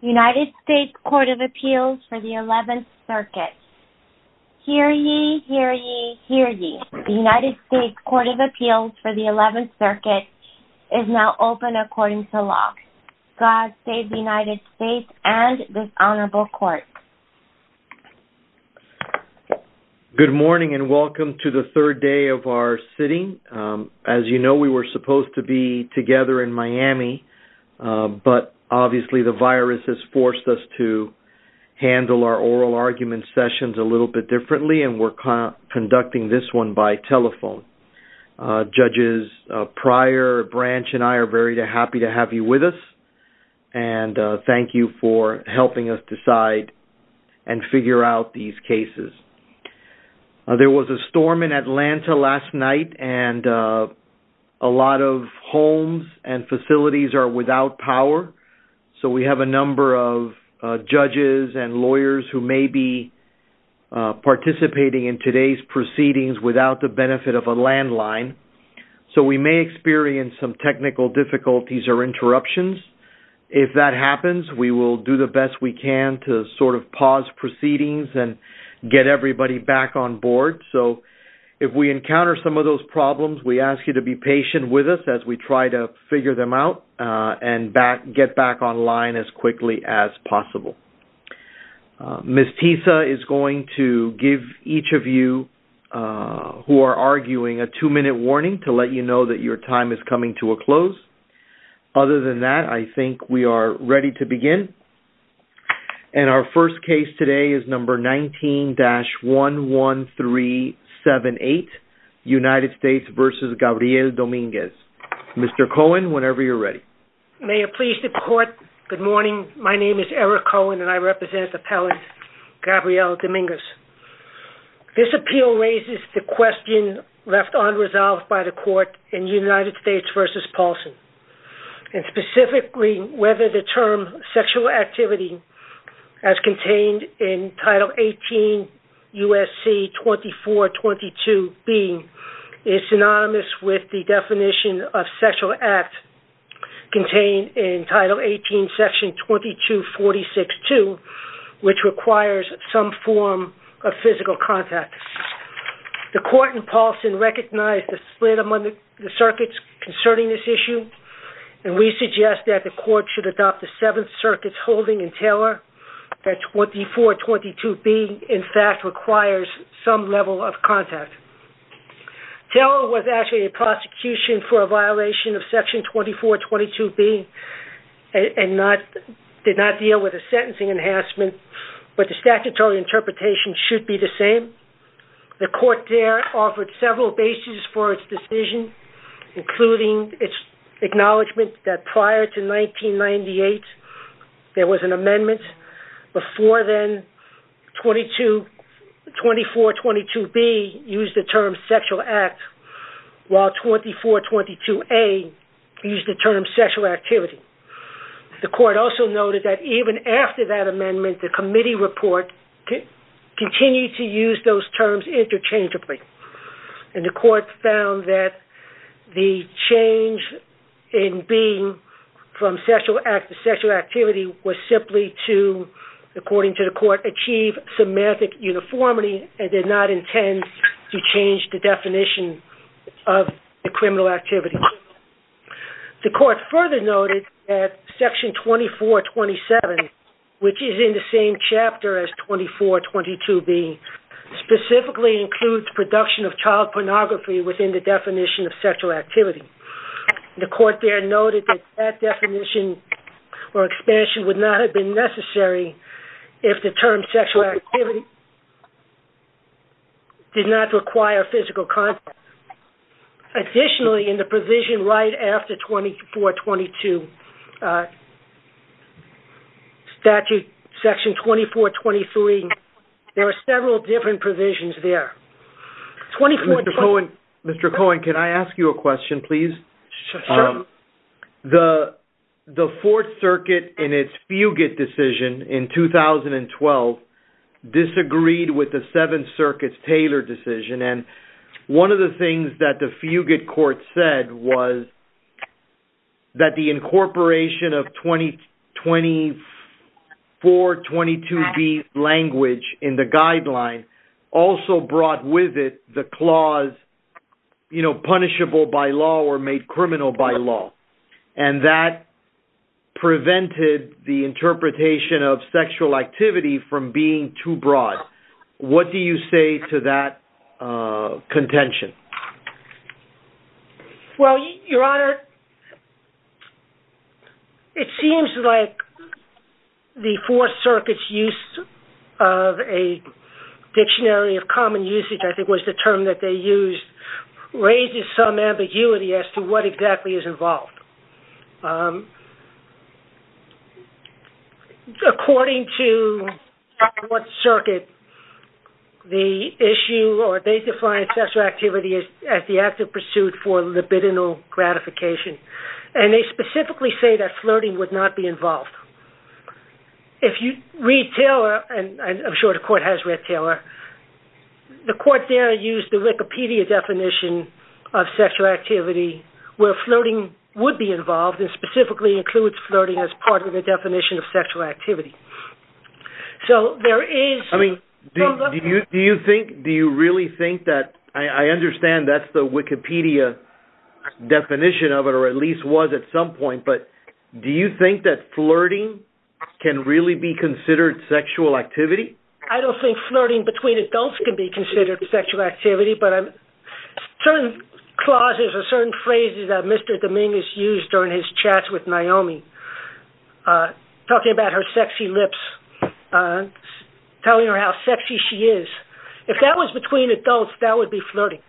United States Court of Appeals for the 11th Circuit. Hear ye, hear ye, hear ye. The United States Court of Appeals for the 11th Circuit is now open according to law. God save the United States and this honorable court. Good morning and welcome to the third day of our sitting. As you know we were supposed to be together in Miami but obviously the virus has forced us to handle our oral argument sessions a little bit differently and we're conducting this one by telephone. Judges Pryor, Branch and I are very happy to have you with us and thank you for helping us decide and figure out these cases. There was a storm in Atlanta last night and a lot of homes and facilities are without power so we have a number of judges and lawyers who may be participating in today's proceedings without the benefit of a landline so we may experience some technical difficulties or interruptions. If that happens we will do the best we encounter some of those problems we ask you to be patient with us as we try to figure them out and get back online as quickly as possible. Ms. Tisa is going to give each of you who are arguing a two-minute warning to let you know that your time is coming to a close. Other than that I think we are ready to United States versus Gabriel Dominguez. Mr. Cohen whenever you're ready. May it please the court good morning my name is Eric Cohen and I represent appellant Gabriel Dominguez. This appeal raises the question left unresolved by the court in United States versus Paulson and specifically whether the term sexual activity as contained in title 18 USC 2422 being is synonymous with the definition of sexual act contained in title 18 section 2246-2 which requires some form of physical contact. The court in Paulson recognized the split among the circuits concerning this issue and we suggest that the court should adopt the Seventh Circuit's holding in Taylor that 2422 being in fact requires some level of contact. Taylor was actually a prosecution for a violation of section 2422 being and not did not deal with a sentencing enhancement but the statutory interpretation should be the same. The court there offered several basis for the court's decision including its acknowledgement that prior to 1998 there was an amendment before then 2422 B used the term sexual act while 2422 A used the term sexual activity. The court also noted that even after that amendment the committee report continued to use those terms interchangeably and the court found that the change in being from sexual act to sexual activity was simply to according to the court achieve semantic uniformity and did not intend to change the definition of the criminal activity. The court further noted that section 2427 which is in the same chapter as 2422 B specifically includes production of child pornography within the definition of sexual activity. The court there noted that that definition or expansion would not have been necessary if the term sexual activity did not require physical contact. Additionally in the provision right after 2422 statute section 2423 there are several different provisions there. Mr. Cohen can I ask you a question please? The Fourth Circuit in its Fugit decision in 2012 disagreed with the Seventh Circuit's Taylor decision and one of the things that the Fugit court said was that the incorporation of 2422 B language in the guideline also brought with it the clause you know punishable by law or made criminal by law and that prevented the interpretation of sexual activity from being too broad. What do you say to that contention? Well your honor it seems like the Fourth Circuit's use of a dictionary of common usage I think was the term that they used raises some ambiguity as to what exactly is involved. According to what circuit the issue or they define sexual activity as the act of pursuit for libidinal gratification and they specifically say that flirting would not be involved. If you read Taylor and I'm sure the court has read Taylor the court there used the Wikipedia definition of sexual activity where flirting would be involved and specifically includes flirting as part of the definition of sexual activity. So there is... I mean do you think do you really think that I understand that's the Wikipedia definition of it or at some point but do you think that flirting can really be considered sexual activity? I don't think flirting between adults can be considered sexual activity but I'm certain clauses or certain phrases that Mr. Dominguez used during his chats with Naomi talking about her sexy lips telling her how sexy she is. If that was between adults that would be flirting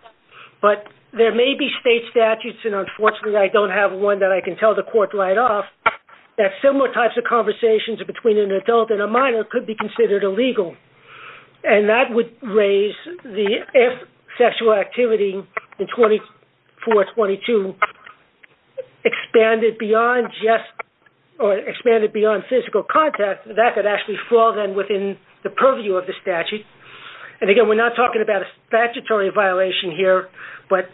but there may be state statutes and unfortunately I don't have one that I can tell the court right off that similar types of conversations between an adult and a minor could be considered illegal and that would raise the if sexual activity in 24-22 expanded beyond just or expanded beyond physical contact that could actually fall then within the purview of the statute and again we're not talking about a statutory violation here but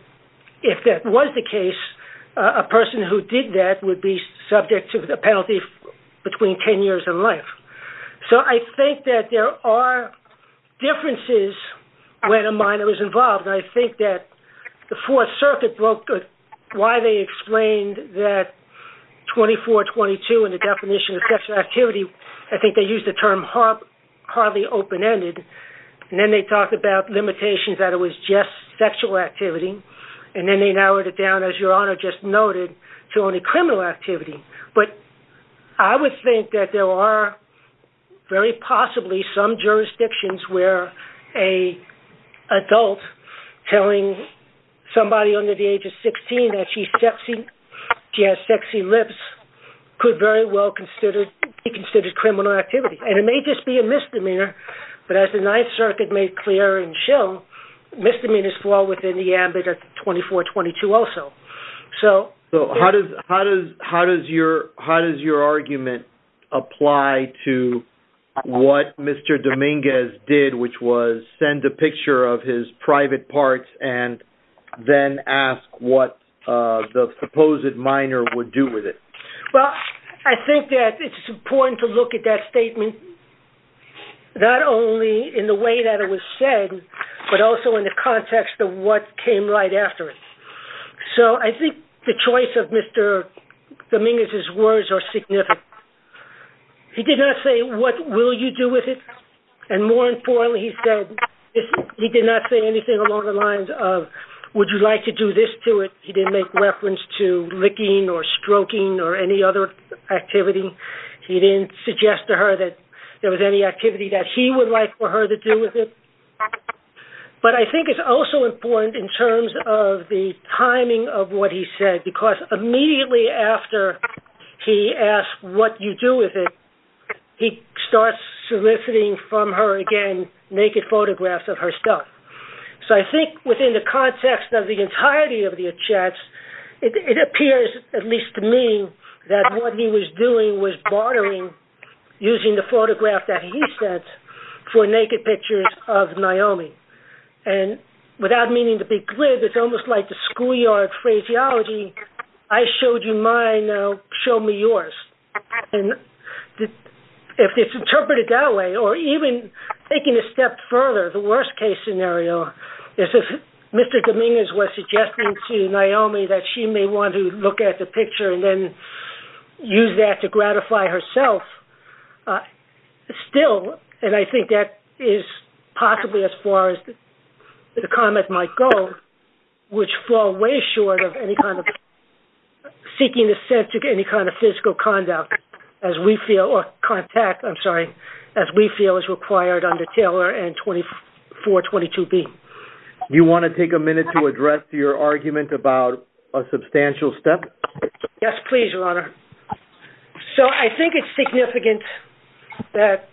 if that was the case a person who did that would be subject to the penalty between 10 years and life. So I think that there are differences when a minor is involved. I think that the Fourth Circuit broke why they explained that 24-22 and the definition of sexual activity I think they used the term hardly open-ended and then they talked about limitations that it was just sexual activity and then they narrowed it down as your honor just noted to only criminal activity but I would think that there are very possibly some jurisdictions where a adult telling somebody under the age of 16 that she's sexy, she has sexy lips could very well be considered criminal activity and it may just be a misdemeanor but as the Ninth Circuit made clear and show misdemeanors fall within the ambit of 24-22 also. So how does your argument apply to what Mr. Dominguez did which was send a picture of his private parts and then ask what the supposed minor would do with it? Well I think that it's important to look at that statement not only in the way that it was said but also in the context of what came right after it. So I think the choice of Mr. Dominguez's words are significant. He did not say what will you do with it and more importantly he said he did not say anything along the lines of would you like to do this to it he didn't make reference to licking or stroking or any other activity. He didn't suggest to her that there was any activity that he would like for her to do with it but I think it's also important in terms of the timing of what he said because immediately after he asked what you do with it he starts soliciting from her again naked photographs of her stuff. So I think within the context of the entirety of the chats it appears at least to me that what he was doing was bartering using the photograph that he sent for naked pictures of Naomi and without meaning to be glib it's almost like the schoolyard phraseology I showed you mine now show me yours and if it's interpreted that way or even taking a step further the worst-case scenario this is Mr. Dominguez was suggesting to Naomi that she may want to look at the picture and then use that to gratify herself still and I think that is possibly as far as the comment might go which fall way short of any kind of seeking the sense to get any kind of physical conduct as we feel or contact I'm sorry as we feel is required under Taylor and 2422 B. You want to take a minute to address your argument about a substantial step? Yes please your honor. So I think it's significant that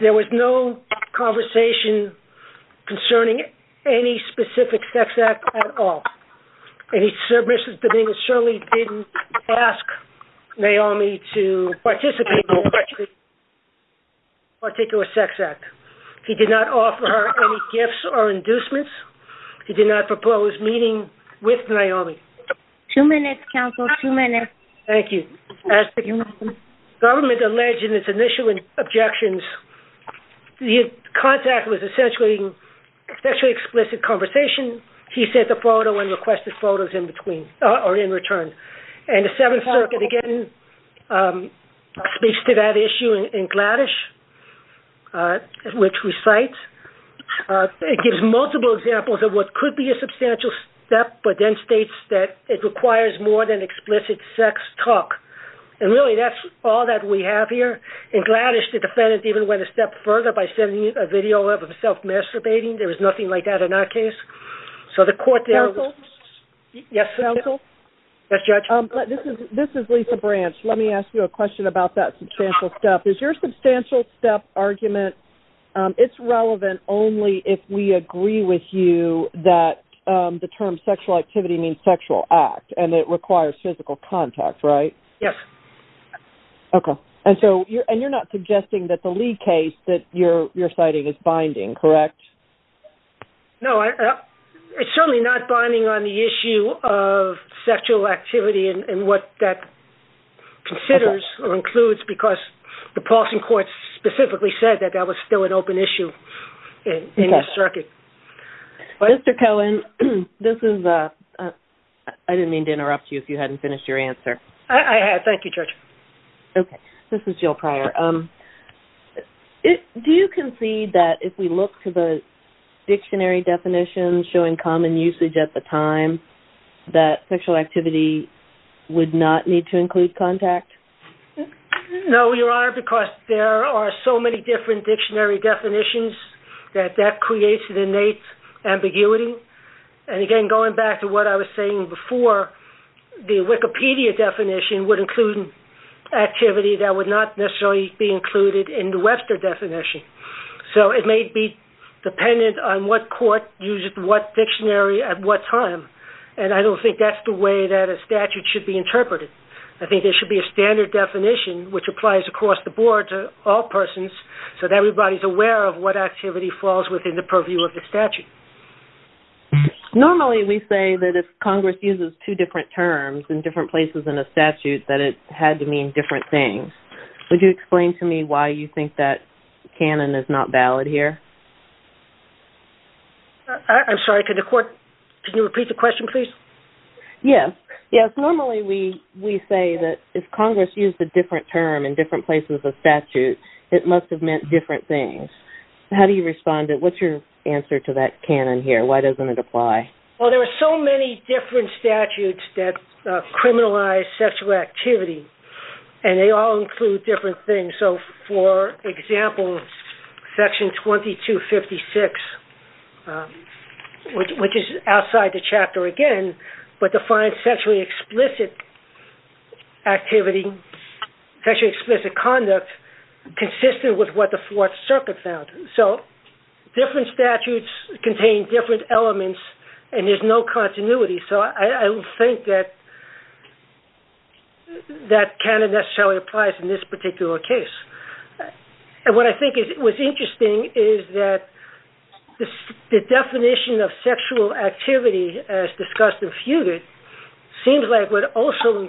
there was no conversation concerning any specific sex at all. Mr. Dominguez certainly didn't ask Naomi to participate in a particular sex act. He did not offer her any gifts or inducements. He did not propose meeting with Naomi. Two minutes counsel, two minutes. Thank you. As the government alleged in its initial objections the contact was essentially especially explicit conversation. He sent a photo and requested photos in between or in return and the Seventh Circuit again speaks to that issue in Gladish which recites it gives multiple examples of what could be a substantial step but then states that it requires more than explicit sex talk and really that's all that we have here in Gladish the video of self-masturbating there was nothing like that in our case. So the court there. Yes counsel. Yes judge. This is Lisa Branch. Let me ask you a question about that substantial step. Is your substantial step argument it's relevant only if we agree with you that the term sexual activity means sexual act and it requires physical contact right? Yes. Okay and so you're and you're not suggesting that the Lee case that you're you're citing is binding correct? No it's certainly not binding on the issue of sexual activity and what that considers or includes because the Paulson court specifically said that that was still an open issue in the circuit. Mr. Cohen this is I didn't mean to interrupt you if you hadn't finished your answer. I had thank you judge. Okay do you concede that if we look to the dictionary definitions showing common usage at the time that sexual activity would not need to include contact? No your honor because there are so many different dictionary definitions that that creates an innate ambiguity and again going back to what I was saying before the Wikipedia definition would include activity that would not necessarily be included in the Webster definition. So it may be dependent on what court uses what dictionary at what time and I don't think that's the way that a statute should be interpreted. I think there should be a standard definition which applies across the board to all persons so that everybody's aware of what activity falls within the purview of the statute. Normally we say that if Congress uses two different terms in different places in a statute that it had to mean different things. Would you explain to me why you think that canon is not valid here? I'm sorry could the court can you repeat the question please? Yes yes normally we we say that if Congress used a different term in different places of statute it must have meant different things. How do you respond it what's your answer to that canon here why doesn't it apply? Well there are so many different statutes that criminalize sexual activity and they all include different things so for example section 2256 which is outside the chapter again but defines sexually explicit activity sexually explicit conduct consistent with what the Fourth Circuit found. So different statutes contain different elements and there's no continuity so I don't think that that canon necessarily applies in this particular case and what I think is it was interesting is that the definition of sexual activity as discussed and feuded seems like would also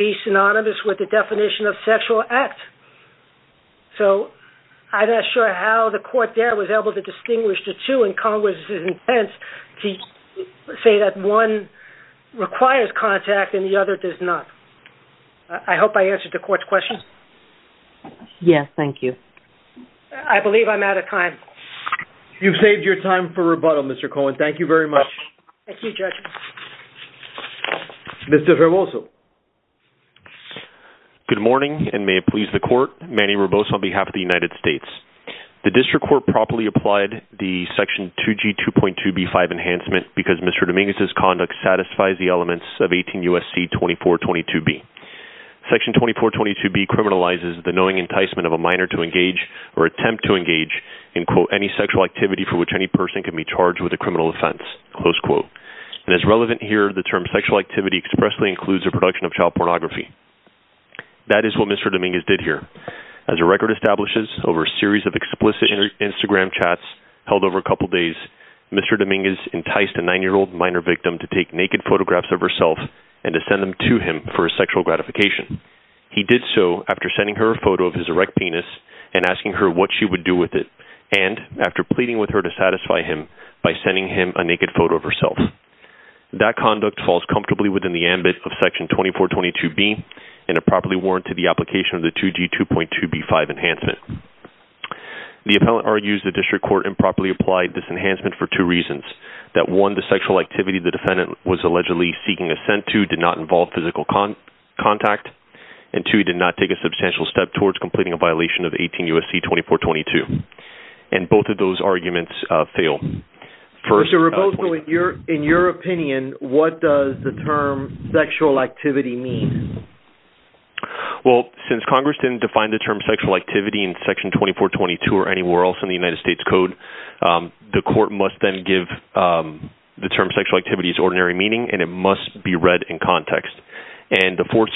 be synonymous with the definition of sexual act. So I'm not sure how the court there was able to distinguish the two and Congress's intent to say that one requires contact and the other does not. I hope I answered the court's question. Yes thank you. I believe I'm out of time. You've saved your time for rebuttal Mr. Cohen thank you very much. Thank you Judge. Mr. Roboso. Good morning and may it please the court Manny Roboso on behalf of the United States. The district court properly applied the section 2g 2.2 b5 enhancement because Mr. Dominguez's conduct satisfies the elements of 18 USC 2422b. Section 2422b criminalizes the knowing enticement of a minor to engage or attempt to engage in quote any sexual activity for which any person can be charged with a criminal offense close quote and as relevant here the term sexual activity expressly includes a production of child pornography. That is what Mr. Dominguez did here as a record establishes over a series of explicit Instagram chats held over a couple days Mr. Dominguez enticed a nine-year-old minor victim to take naked photographs of herself and to send them to him for a sexual gratification. He did so after sending her a photo of his erect penis and asking her what she would do with it and after pleading with her to satisfy him by sending him a naked photo of herself. That conduct falls comfortably within the ambit of section 2422b and a properly warranted the application of the 2g 2.2 b5 enhancement. The appellant argues the district court improperly applied this enhancement for two reasons that one the sexual activity the defendant was allegedly seeking assent to did not involve physical contact and two he did not take a substantial step towards completing a violation of 18 USC 2422 and both of those arguments fail. Mr. Roboto in your in your opinion what does the term sexual activity mean? Well since Congress didn't define the term sexual activity in section 2422 or anywhere else in the United States Code the court must then give the term sexual activities ordinary meaning and it must be read in context and the Fourth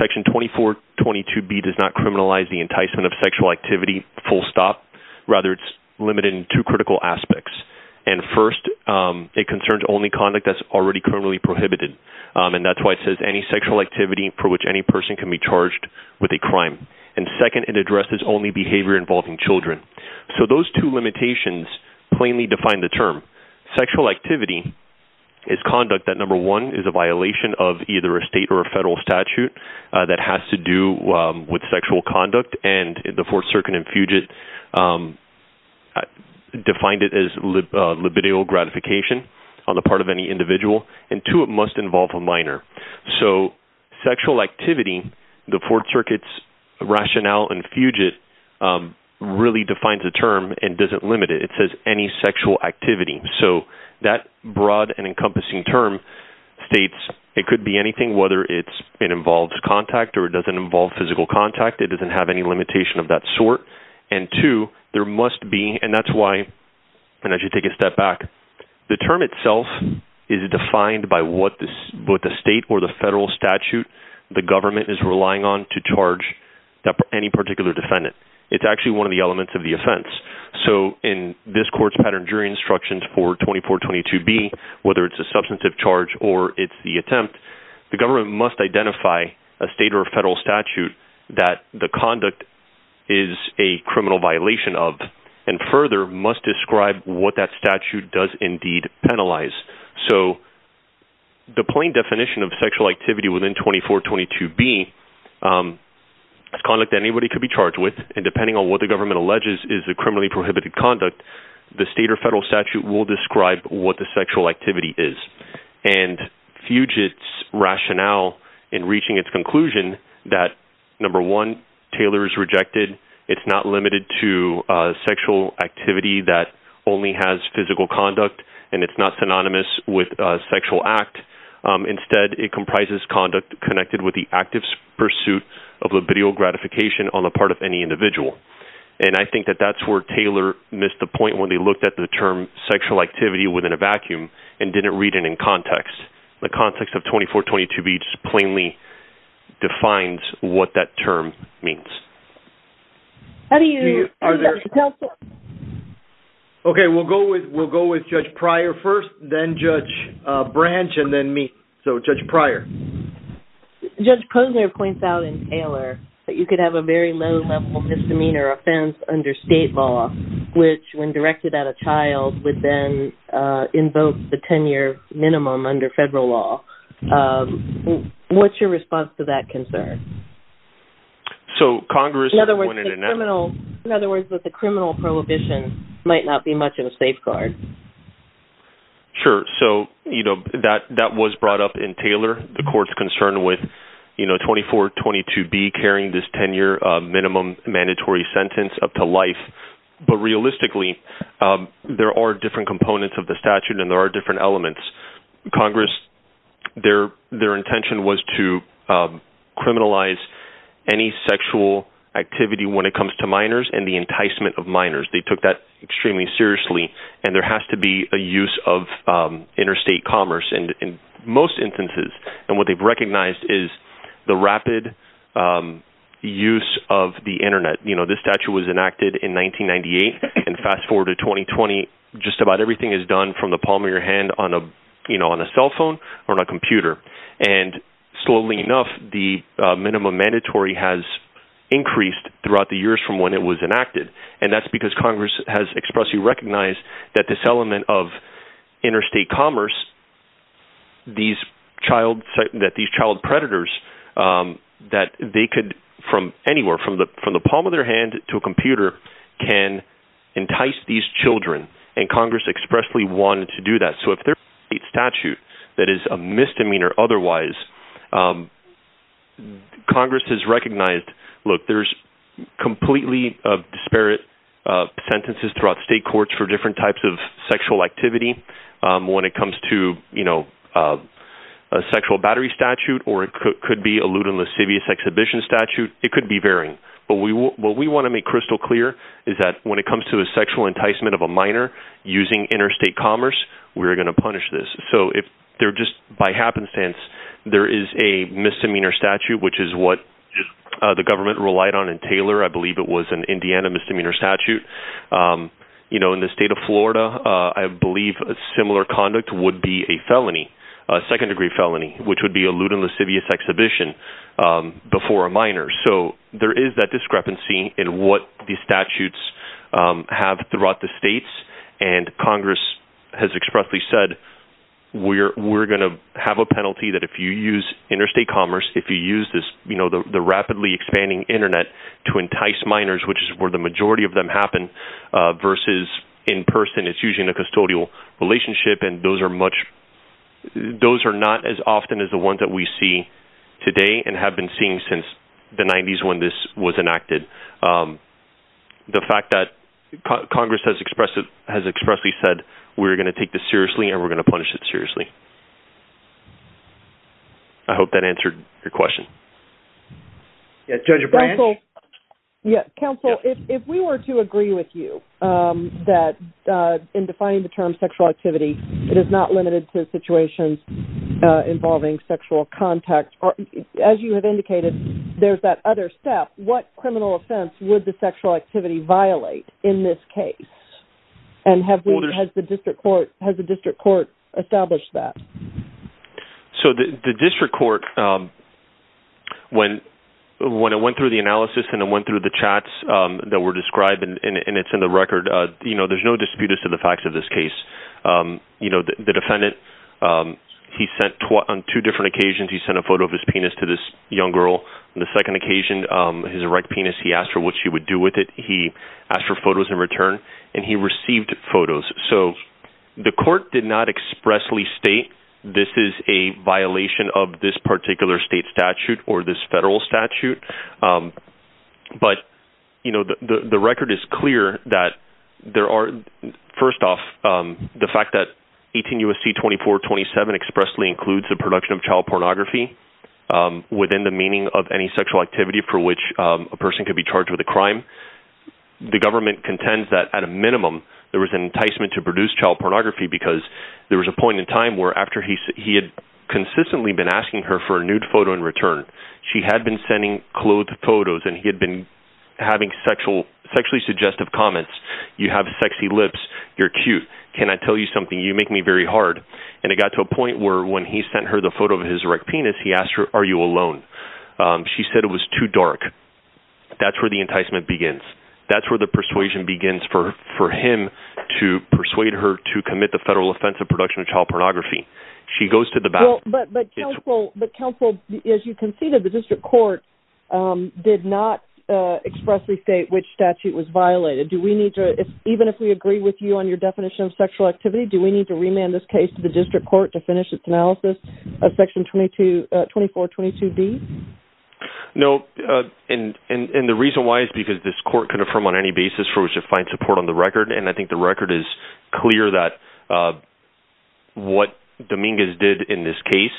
Section 2422b does not criminalize the enticement of sexual activity full stop rather it's limited in two critical aspects and first it concerns only conduct that's already criminally prohibited and that's why it says any sexual activity for which any person can be charged with a crime and second it addresses only behavior involving children so those two limitations plainly define the term sexual activity is conduct that number one is a statute that has to do with sexual conduct and the Fourth Circuit and Fugit defined it as libido gratification on the part of any individual and two it must involve a minor so sexual activity the Fourth Circuit's rationale and Fugit really defines the term and doesn't limit it it says any sexual activity so that broad and encompassing term states it could be anything whether it's it involves contact or it doesn't involve physical contact it doesn't have any limitation of that sort and two there must be and that's why and as you take a step back the term itself is defined by what this what the state or the federal statute the government is relying on to charge that any particular defendant it's actually one of the elements of the offense so in this court's pattern jury instructions for 2422 B whether it's a substantive charge or it's the attempt the government must identify a state or federal statute that the conduct is a criminal violation of and further must describe what that statute does indeed penalize so the plain definition of sexual activity within 2422 B conduct anybody could be charged with and depending on what the government alleges is the criminally prohibited conduct the state or federal statute will describe what the sexual activity is and fugitives rationale in reaching its conclusion that number one Taylor is rejected it's not limited to sexual activity that only has physical conduct and it's not synonymous with sexual act instead it comprises conduct connected with the active pursuit of libidial gratification on the part of any individual and I think that that's where Taylor missed the point when they looked at the term sexual activity within a vacuum and didn't read it in context the context of 2422 B just plainly defines what that term means okay we'll go with we'll go with judge prior first then branch and then me so judge prior judge Posner points out in Taylor that you could have a very low level misdemeanor offense under state law which when directed at a child would then invoke the 10-year minimum under federal law what's your response to that concern so Congress in other words in other words that the criminal prohibition might not be much of a safeguard sure so you know that that was brought up in Taylor the courts concerned with you know 2422 B carrying this 10-year minimum mandatory sentence up to life but realistically there are different components of the statute and there are different elements Congress their their intention was to criminalize any sexual activity when it was enacted in 1998 and fast forward to 2020 just about everything is done from the palm of your hand on a you know on a cell phone or a computer and slowly enough the minimum mandatory has increased throughout the years from when it was enacted and that's because Congress has expressly recognized that this element of interstate commerce these child that these child predators that they could from anywhere from the from the palm of their hand to a computer can entice these children and Congress expressly wanted to do that so if there is a statute that is a misdemeanor otherwise Congress has completely of disparate sentences throughout state courts for different types of sexual activity when it comes to you know a sexual battery statute or it could be allude in lascivious exhibition statute it could be varying but we will what we want to make crystal clear is that when it comes to a sexual enticement of a minor using interstate commerce we're going to punish this so if they're just by happenstance there is a misdemeanor statute which is what the government relied on in Taylor I believe it was an Indiana misdemeanor statute you know in the state of Florida I believe a similar conduct would be a felony a second-degree felony which would be allude in lascivious exhibition before a minor so there is that discrepancy in what these statutes have throughout the states and Congress has expressly said we're we're going to have a penalty that if you use interstate commerce if you use this you know the rapidly expanding internet to entice minors which is where the majority of them happen versus in person it's using a custodial relationship and those are much those are not as often as the ones that we see today and have been seeing since the 90s when this was enacted the fact that Congress has expressed it has expressly said we're going to take this seriously and we're going to punish it yeah counsel if we were to agree with you that in defining the term sexual activity it is not limited to situations involving sexual contact or as you have indicated there's that other step what criminal offense would the sexual activity violate in this case and have we has the district court has the when I went through the analysis and I went through the chats that were described and it's in the record you know there's no dispute as to the facts of this case you know the defendant he sent on two different occasions he sent a photo of his penis to this young girl the second occasion his erect penis he asked for what she would do with it he asked for photos in return and he received photos so the court did not expressly state this is a violation of this particular state statute or this federal statute but you know the record is clear that there are first off the fact that 18 USC 2427 expressly includes the production of child pornography within the meaning of any sexual activity for which a person could be charged with a crime the government contends that at a minimum there was an enticement to produce child pornography because there was a point in time where after he said he had consistently been asking her for a nude photo in return she had been sending clothes photos and he had been having sexual sexually suggestive comments you have sexy lips you're cute can I tell you something you make me very hard and it got to a point where when he sent her the photo of his erect penis he asked her are you alone she said it was too dark that's where the enticement begins that's where the persuasion begins for for him to persuade her to commit the federal offensive production of child pornography she goes to the back but but counsel but counsel as you conceded the district court did not expressly state which statute was violated do we need to even if we agree with you on your definition of sexual activity do we need to remand this case to the district court to finish its analysis of section 22 24 22 B no and and and the reason why is because this court could affirm on any basis for us to find support on the what Dominguez did in this case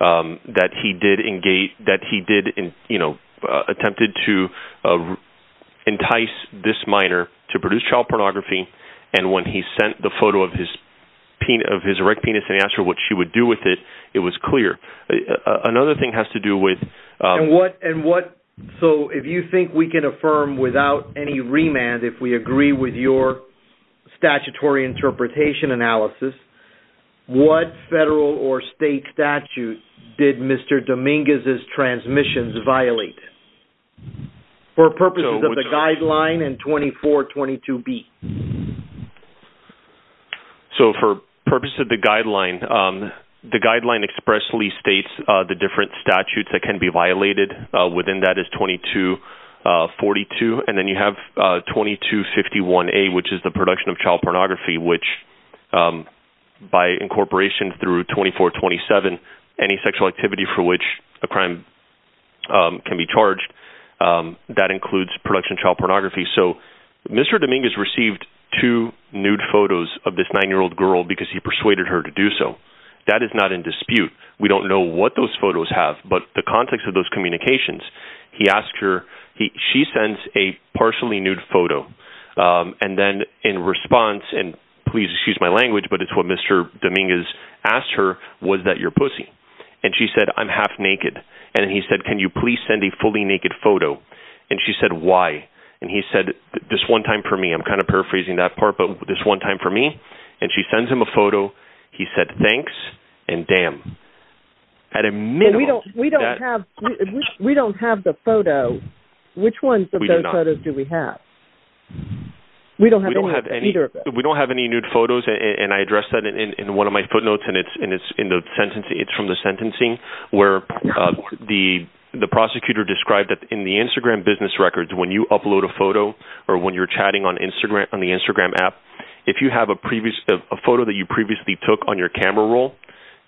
that he did engage that he did in you know attempted to entice this minor to produce child pornography and when he sent the photo of his penis of his erect penis and asked her what she would do with it it was clear another thing has to do with what and what so if you think we can affirm without any remand if we agree with your statutory interpretation analysis what federal or state statute did mr. Dominguez's transmissions violate for purposes of the guideline and 24 22 B so for purpose of the guideline the guideline expressly states the different statutes that can be violated within that is 22 42 and then you have 22 51 a which is the production of child pornography which by incorporation through 24 27 any sexual activity for which a crime can be charged that includes production child pornography so mr. Dominguez received two nude photos of this nine-year-old girl because he persuaded her to do so that is not in dispute we don't know what those photos have but the context of those communications he asked her he she and please excuse my language but it's what mr. Dominguez asked her was that your pussy and she said I'm half naked and he said can you please send a fully naked photo and she said why and he said this one time for me I'm kind of paraphrasing that part but this one time for me and she sends him a photo he said thanks and damn at a minute we don't have we don't have the photo which one do we have we don't have any we don't have any nude photos and I addressed that in one of my footnotes and it's and it's in the sentence it's from the sentencing where the the prosecutor described that in the Instagram business records when you upload a photo or when you're chatting on Instagram on the Instagram app if you have a previous of a photo that you previously took on your camera roll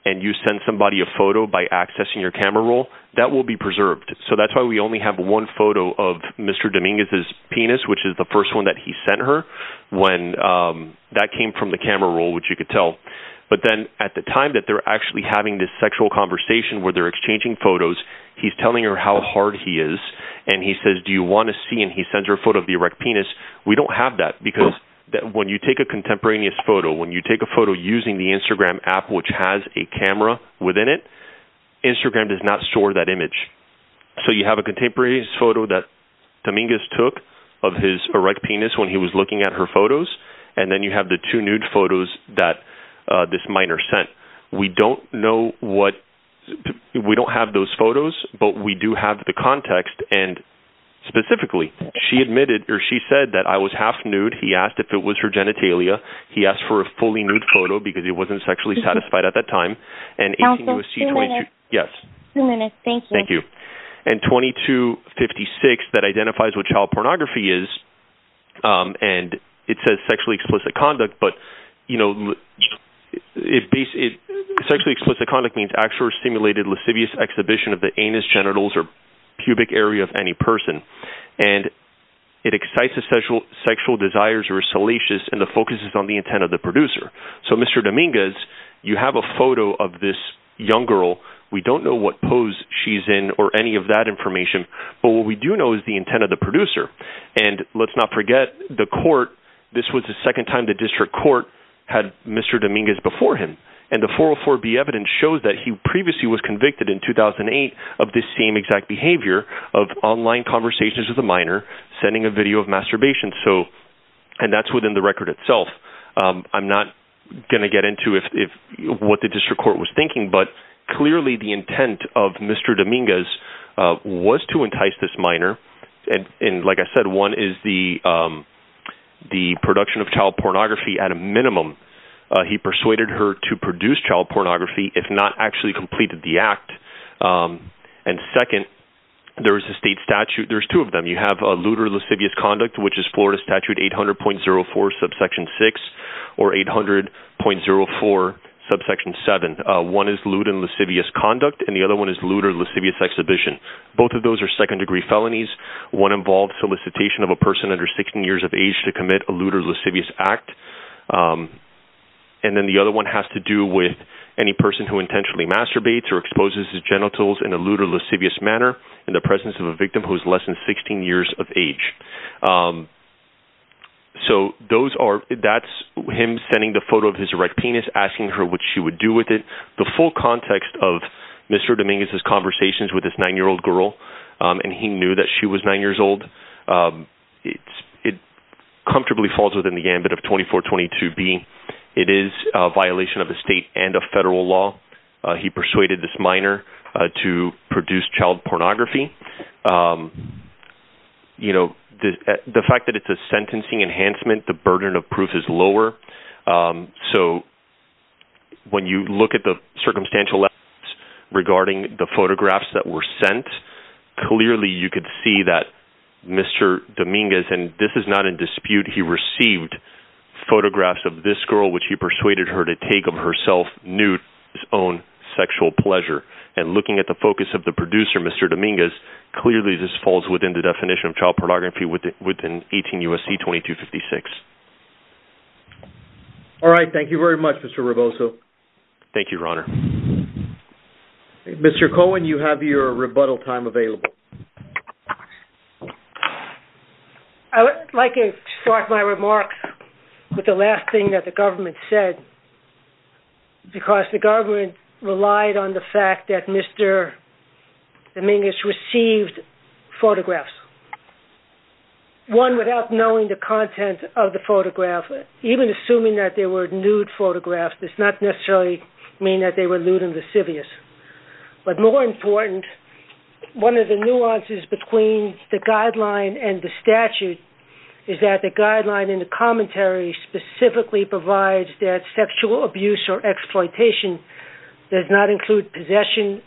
and you send somebody a photo by accessing your camera roll that will be preserved so that's why we only have one photo of mr. Dominguez's penis which is the first one that he sent her when that came from the camera roll which you could tell but then at the time that they're actually having this sexual conversation where they're exchanging photos he's telling her how hard he is and he says do you want to see and he sends her a photo of the erect penis we don't have that because that when you take a contemporaneous photo when you take a photo using the Instagram app which has a camera within it Instagram does not store that image so you have a contemporaneous photo that Dominguez took of his erect penis when he was looking at her photos and then you have the two nude photos that this minor sent we don't know what we don't have those photos but we do have the context and specifically she admitted or she said that I was half nude he asked if it was her genitalia he asked for a fully nude photo because he wasn't sexually satisfied at that time and yes thank you and 2256 that identifies what child pornography is and it says sexually explicit conduct but you know it basically sexually explicit conduct means actually stimulated lascivious exhibition of the anus genitals or pubic area of any person and it excites a special sexual desires or salacious and the focus is on the intent of the producer so mr. Dominguez you have a young girl we don't know what pose she's in or any of that information but what we do know is the intent of the producer and let's not forget the court this was the second time the district court had mr. Dominguez before him and the 404 be evidence shows that he previously was convicted in 2008 of this same exact behavior of online conversations with a minor sending a video of masturbation so and that's within the record itself I'm not going to get into if what the district court was thinking but clearly the intent of mr. Dominguez was to entice this minor and in like I said one is the the production of child pornography at a minimum he persuaded her to produce child pornography if not actually completed the act and second there is a state statute there's two of them you have a looter lascivious conduct which is Florida statute 800.04 subsection 6 or 800.04 subsection 7 one is lewd and lascivious conduct and the other one is looter lascivious exhibition both of those are second-degree felonies one involved solicitation of a person under 16 years of age to commit a looter lascivious act and then the other one has to do with any person who intentionally masturbates or exposes his genitals in a looter lascivious manner in the presence of a so those are that's him sending the photo of his erect penis asking her what she would do with it the full context of mr. Dominguez's conversations with this nine-year-old girl and he knew that she was nine years old it's it comfortably falls within the ambit of 2422b it is a violation of the state and a federal law he persuaded this minor to produce child pornography you know the fact that it's a sentencing enhancement the burden of proof is lower so when you look at the circumstantial regarding the photographs that were sent clearly you could see that mr. Dominguez and this is not in dispute he received photographs of this girl which he persuaded her to take of herself nude his own sexual pleasure and looking at the focus of the producer mr. Dominguez clearly this within the definition of child pornography with it within 18 USC 2256 all right thank you very much mr. Roboto thank you your honor mr. Cohen you have your rebuttal time available I would like to start my remarks with the last thing that the government said because the government relied on the fact that mr. Dominguez received photographs one without knowing the content of the photograph even assuming that they were nude photographs does not necessarily mean that they were lewd and lascivious but more important one of the nuances between the guideline and the statute is that the guideline in the commentary specifically provides that sexual abuse or exploitation does not include possession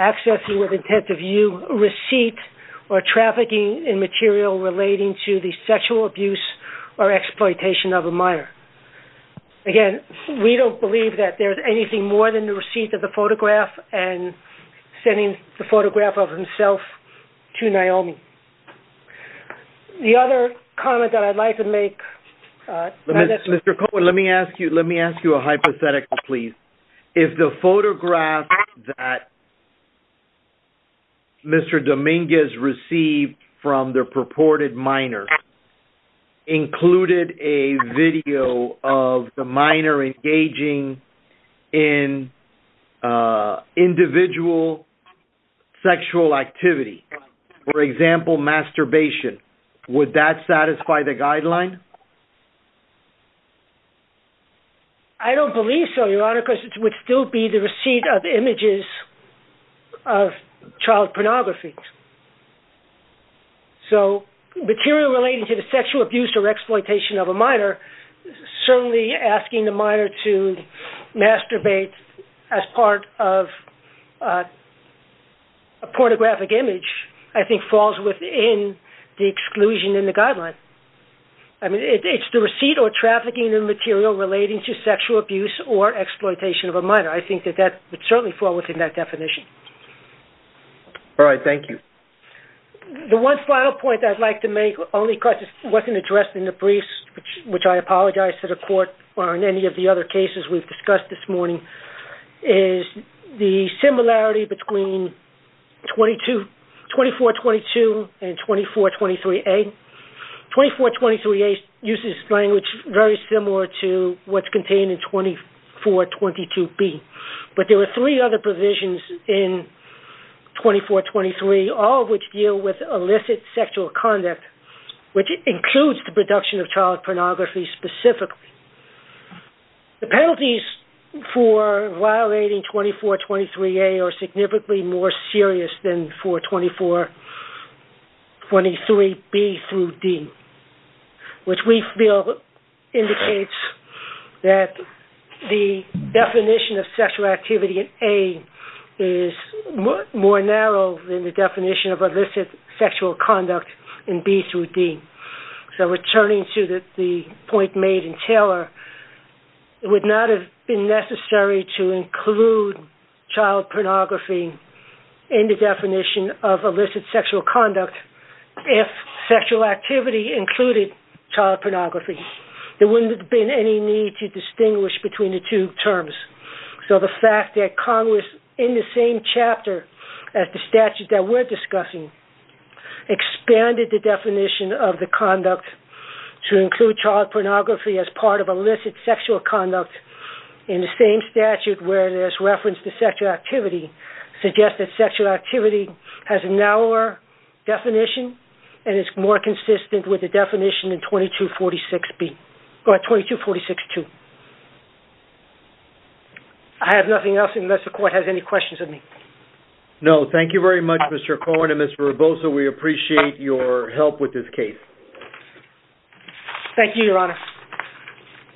accessing with intent of you receipt or trafficking in material relating to the sexual abuse or exploitation of a minor again we don't believe that there's anything more than the receipt of the photograph and sending the photograph of himself to Naomi the other comment that I'd like to make mr. Cohen let me ask you let me ask you a hypothetical please if the photograph that mr. Dominguez received from their purported minor included a video of the minor engaging in individual sexual activity for example masturbation would that satisfy the guideline I don't believe so your honor because it would still be the receipt of images of child pornography so material relating to the sexual abuse or exploitation of a minor certainly asking the minor to masturbate as part of a pornographic image I think falls within the exclusion in the guideline I mean it's the receipt or trafficking in material relating to sexual abuse or exploitation of a minor I think that that would certainly fall within that definition all right thank you the one final point I'd like to make only crisis wasn't addressed in the briefs which I apologize to the court or in any of the other cases we've discussed this morning is the similarity between 22 24 22 and 24 23 a 24 23 a uses language very similar to what's contained in 24 22 B but there were three other provisions in 24 23 all which deal with illicit sexual conduct which includes the production of child pornography specifically the penalties for violating 24 23 a are that the definition of sexual activity in a is more narrow than the definition of a visit sexual conduct in B through D so returning to that the point made in Taylor it would not have been necessary to include child pornography in the definition of illicit sexual conduct if sexual activity included child pornography there wouldn't have been any need to distinguish between the two terms so the fact that Congress in the same chapter at the statute that we're discussing expanded the definition of the conduct to include child pornography as part of illicit sexual conduct in the same statute where there's reference to sexual activity suggest that sexual activity has a narrower definition and it's more consistent with the definition in 22 46 B or 22 46 2 I have nothing else unless the court has any questions of me no thank you very much mr. Cohen and mr. Bosa we appreciate your help with this case thank you your honor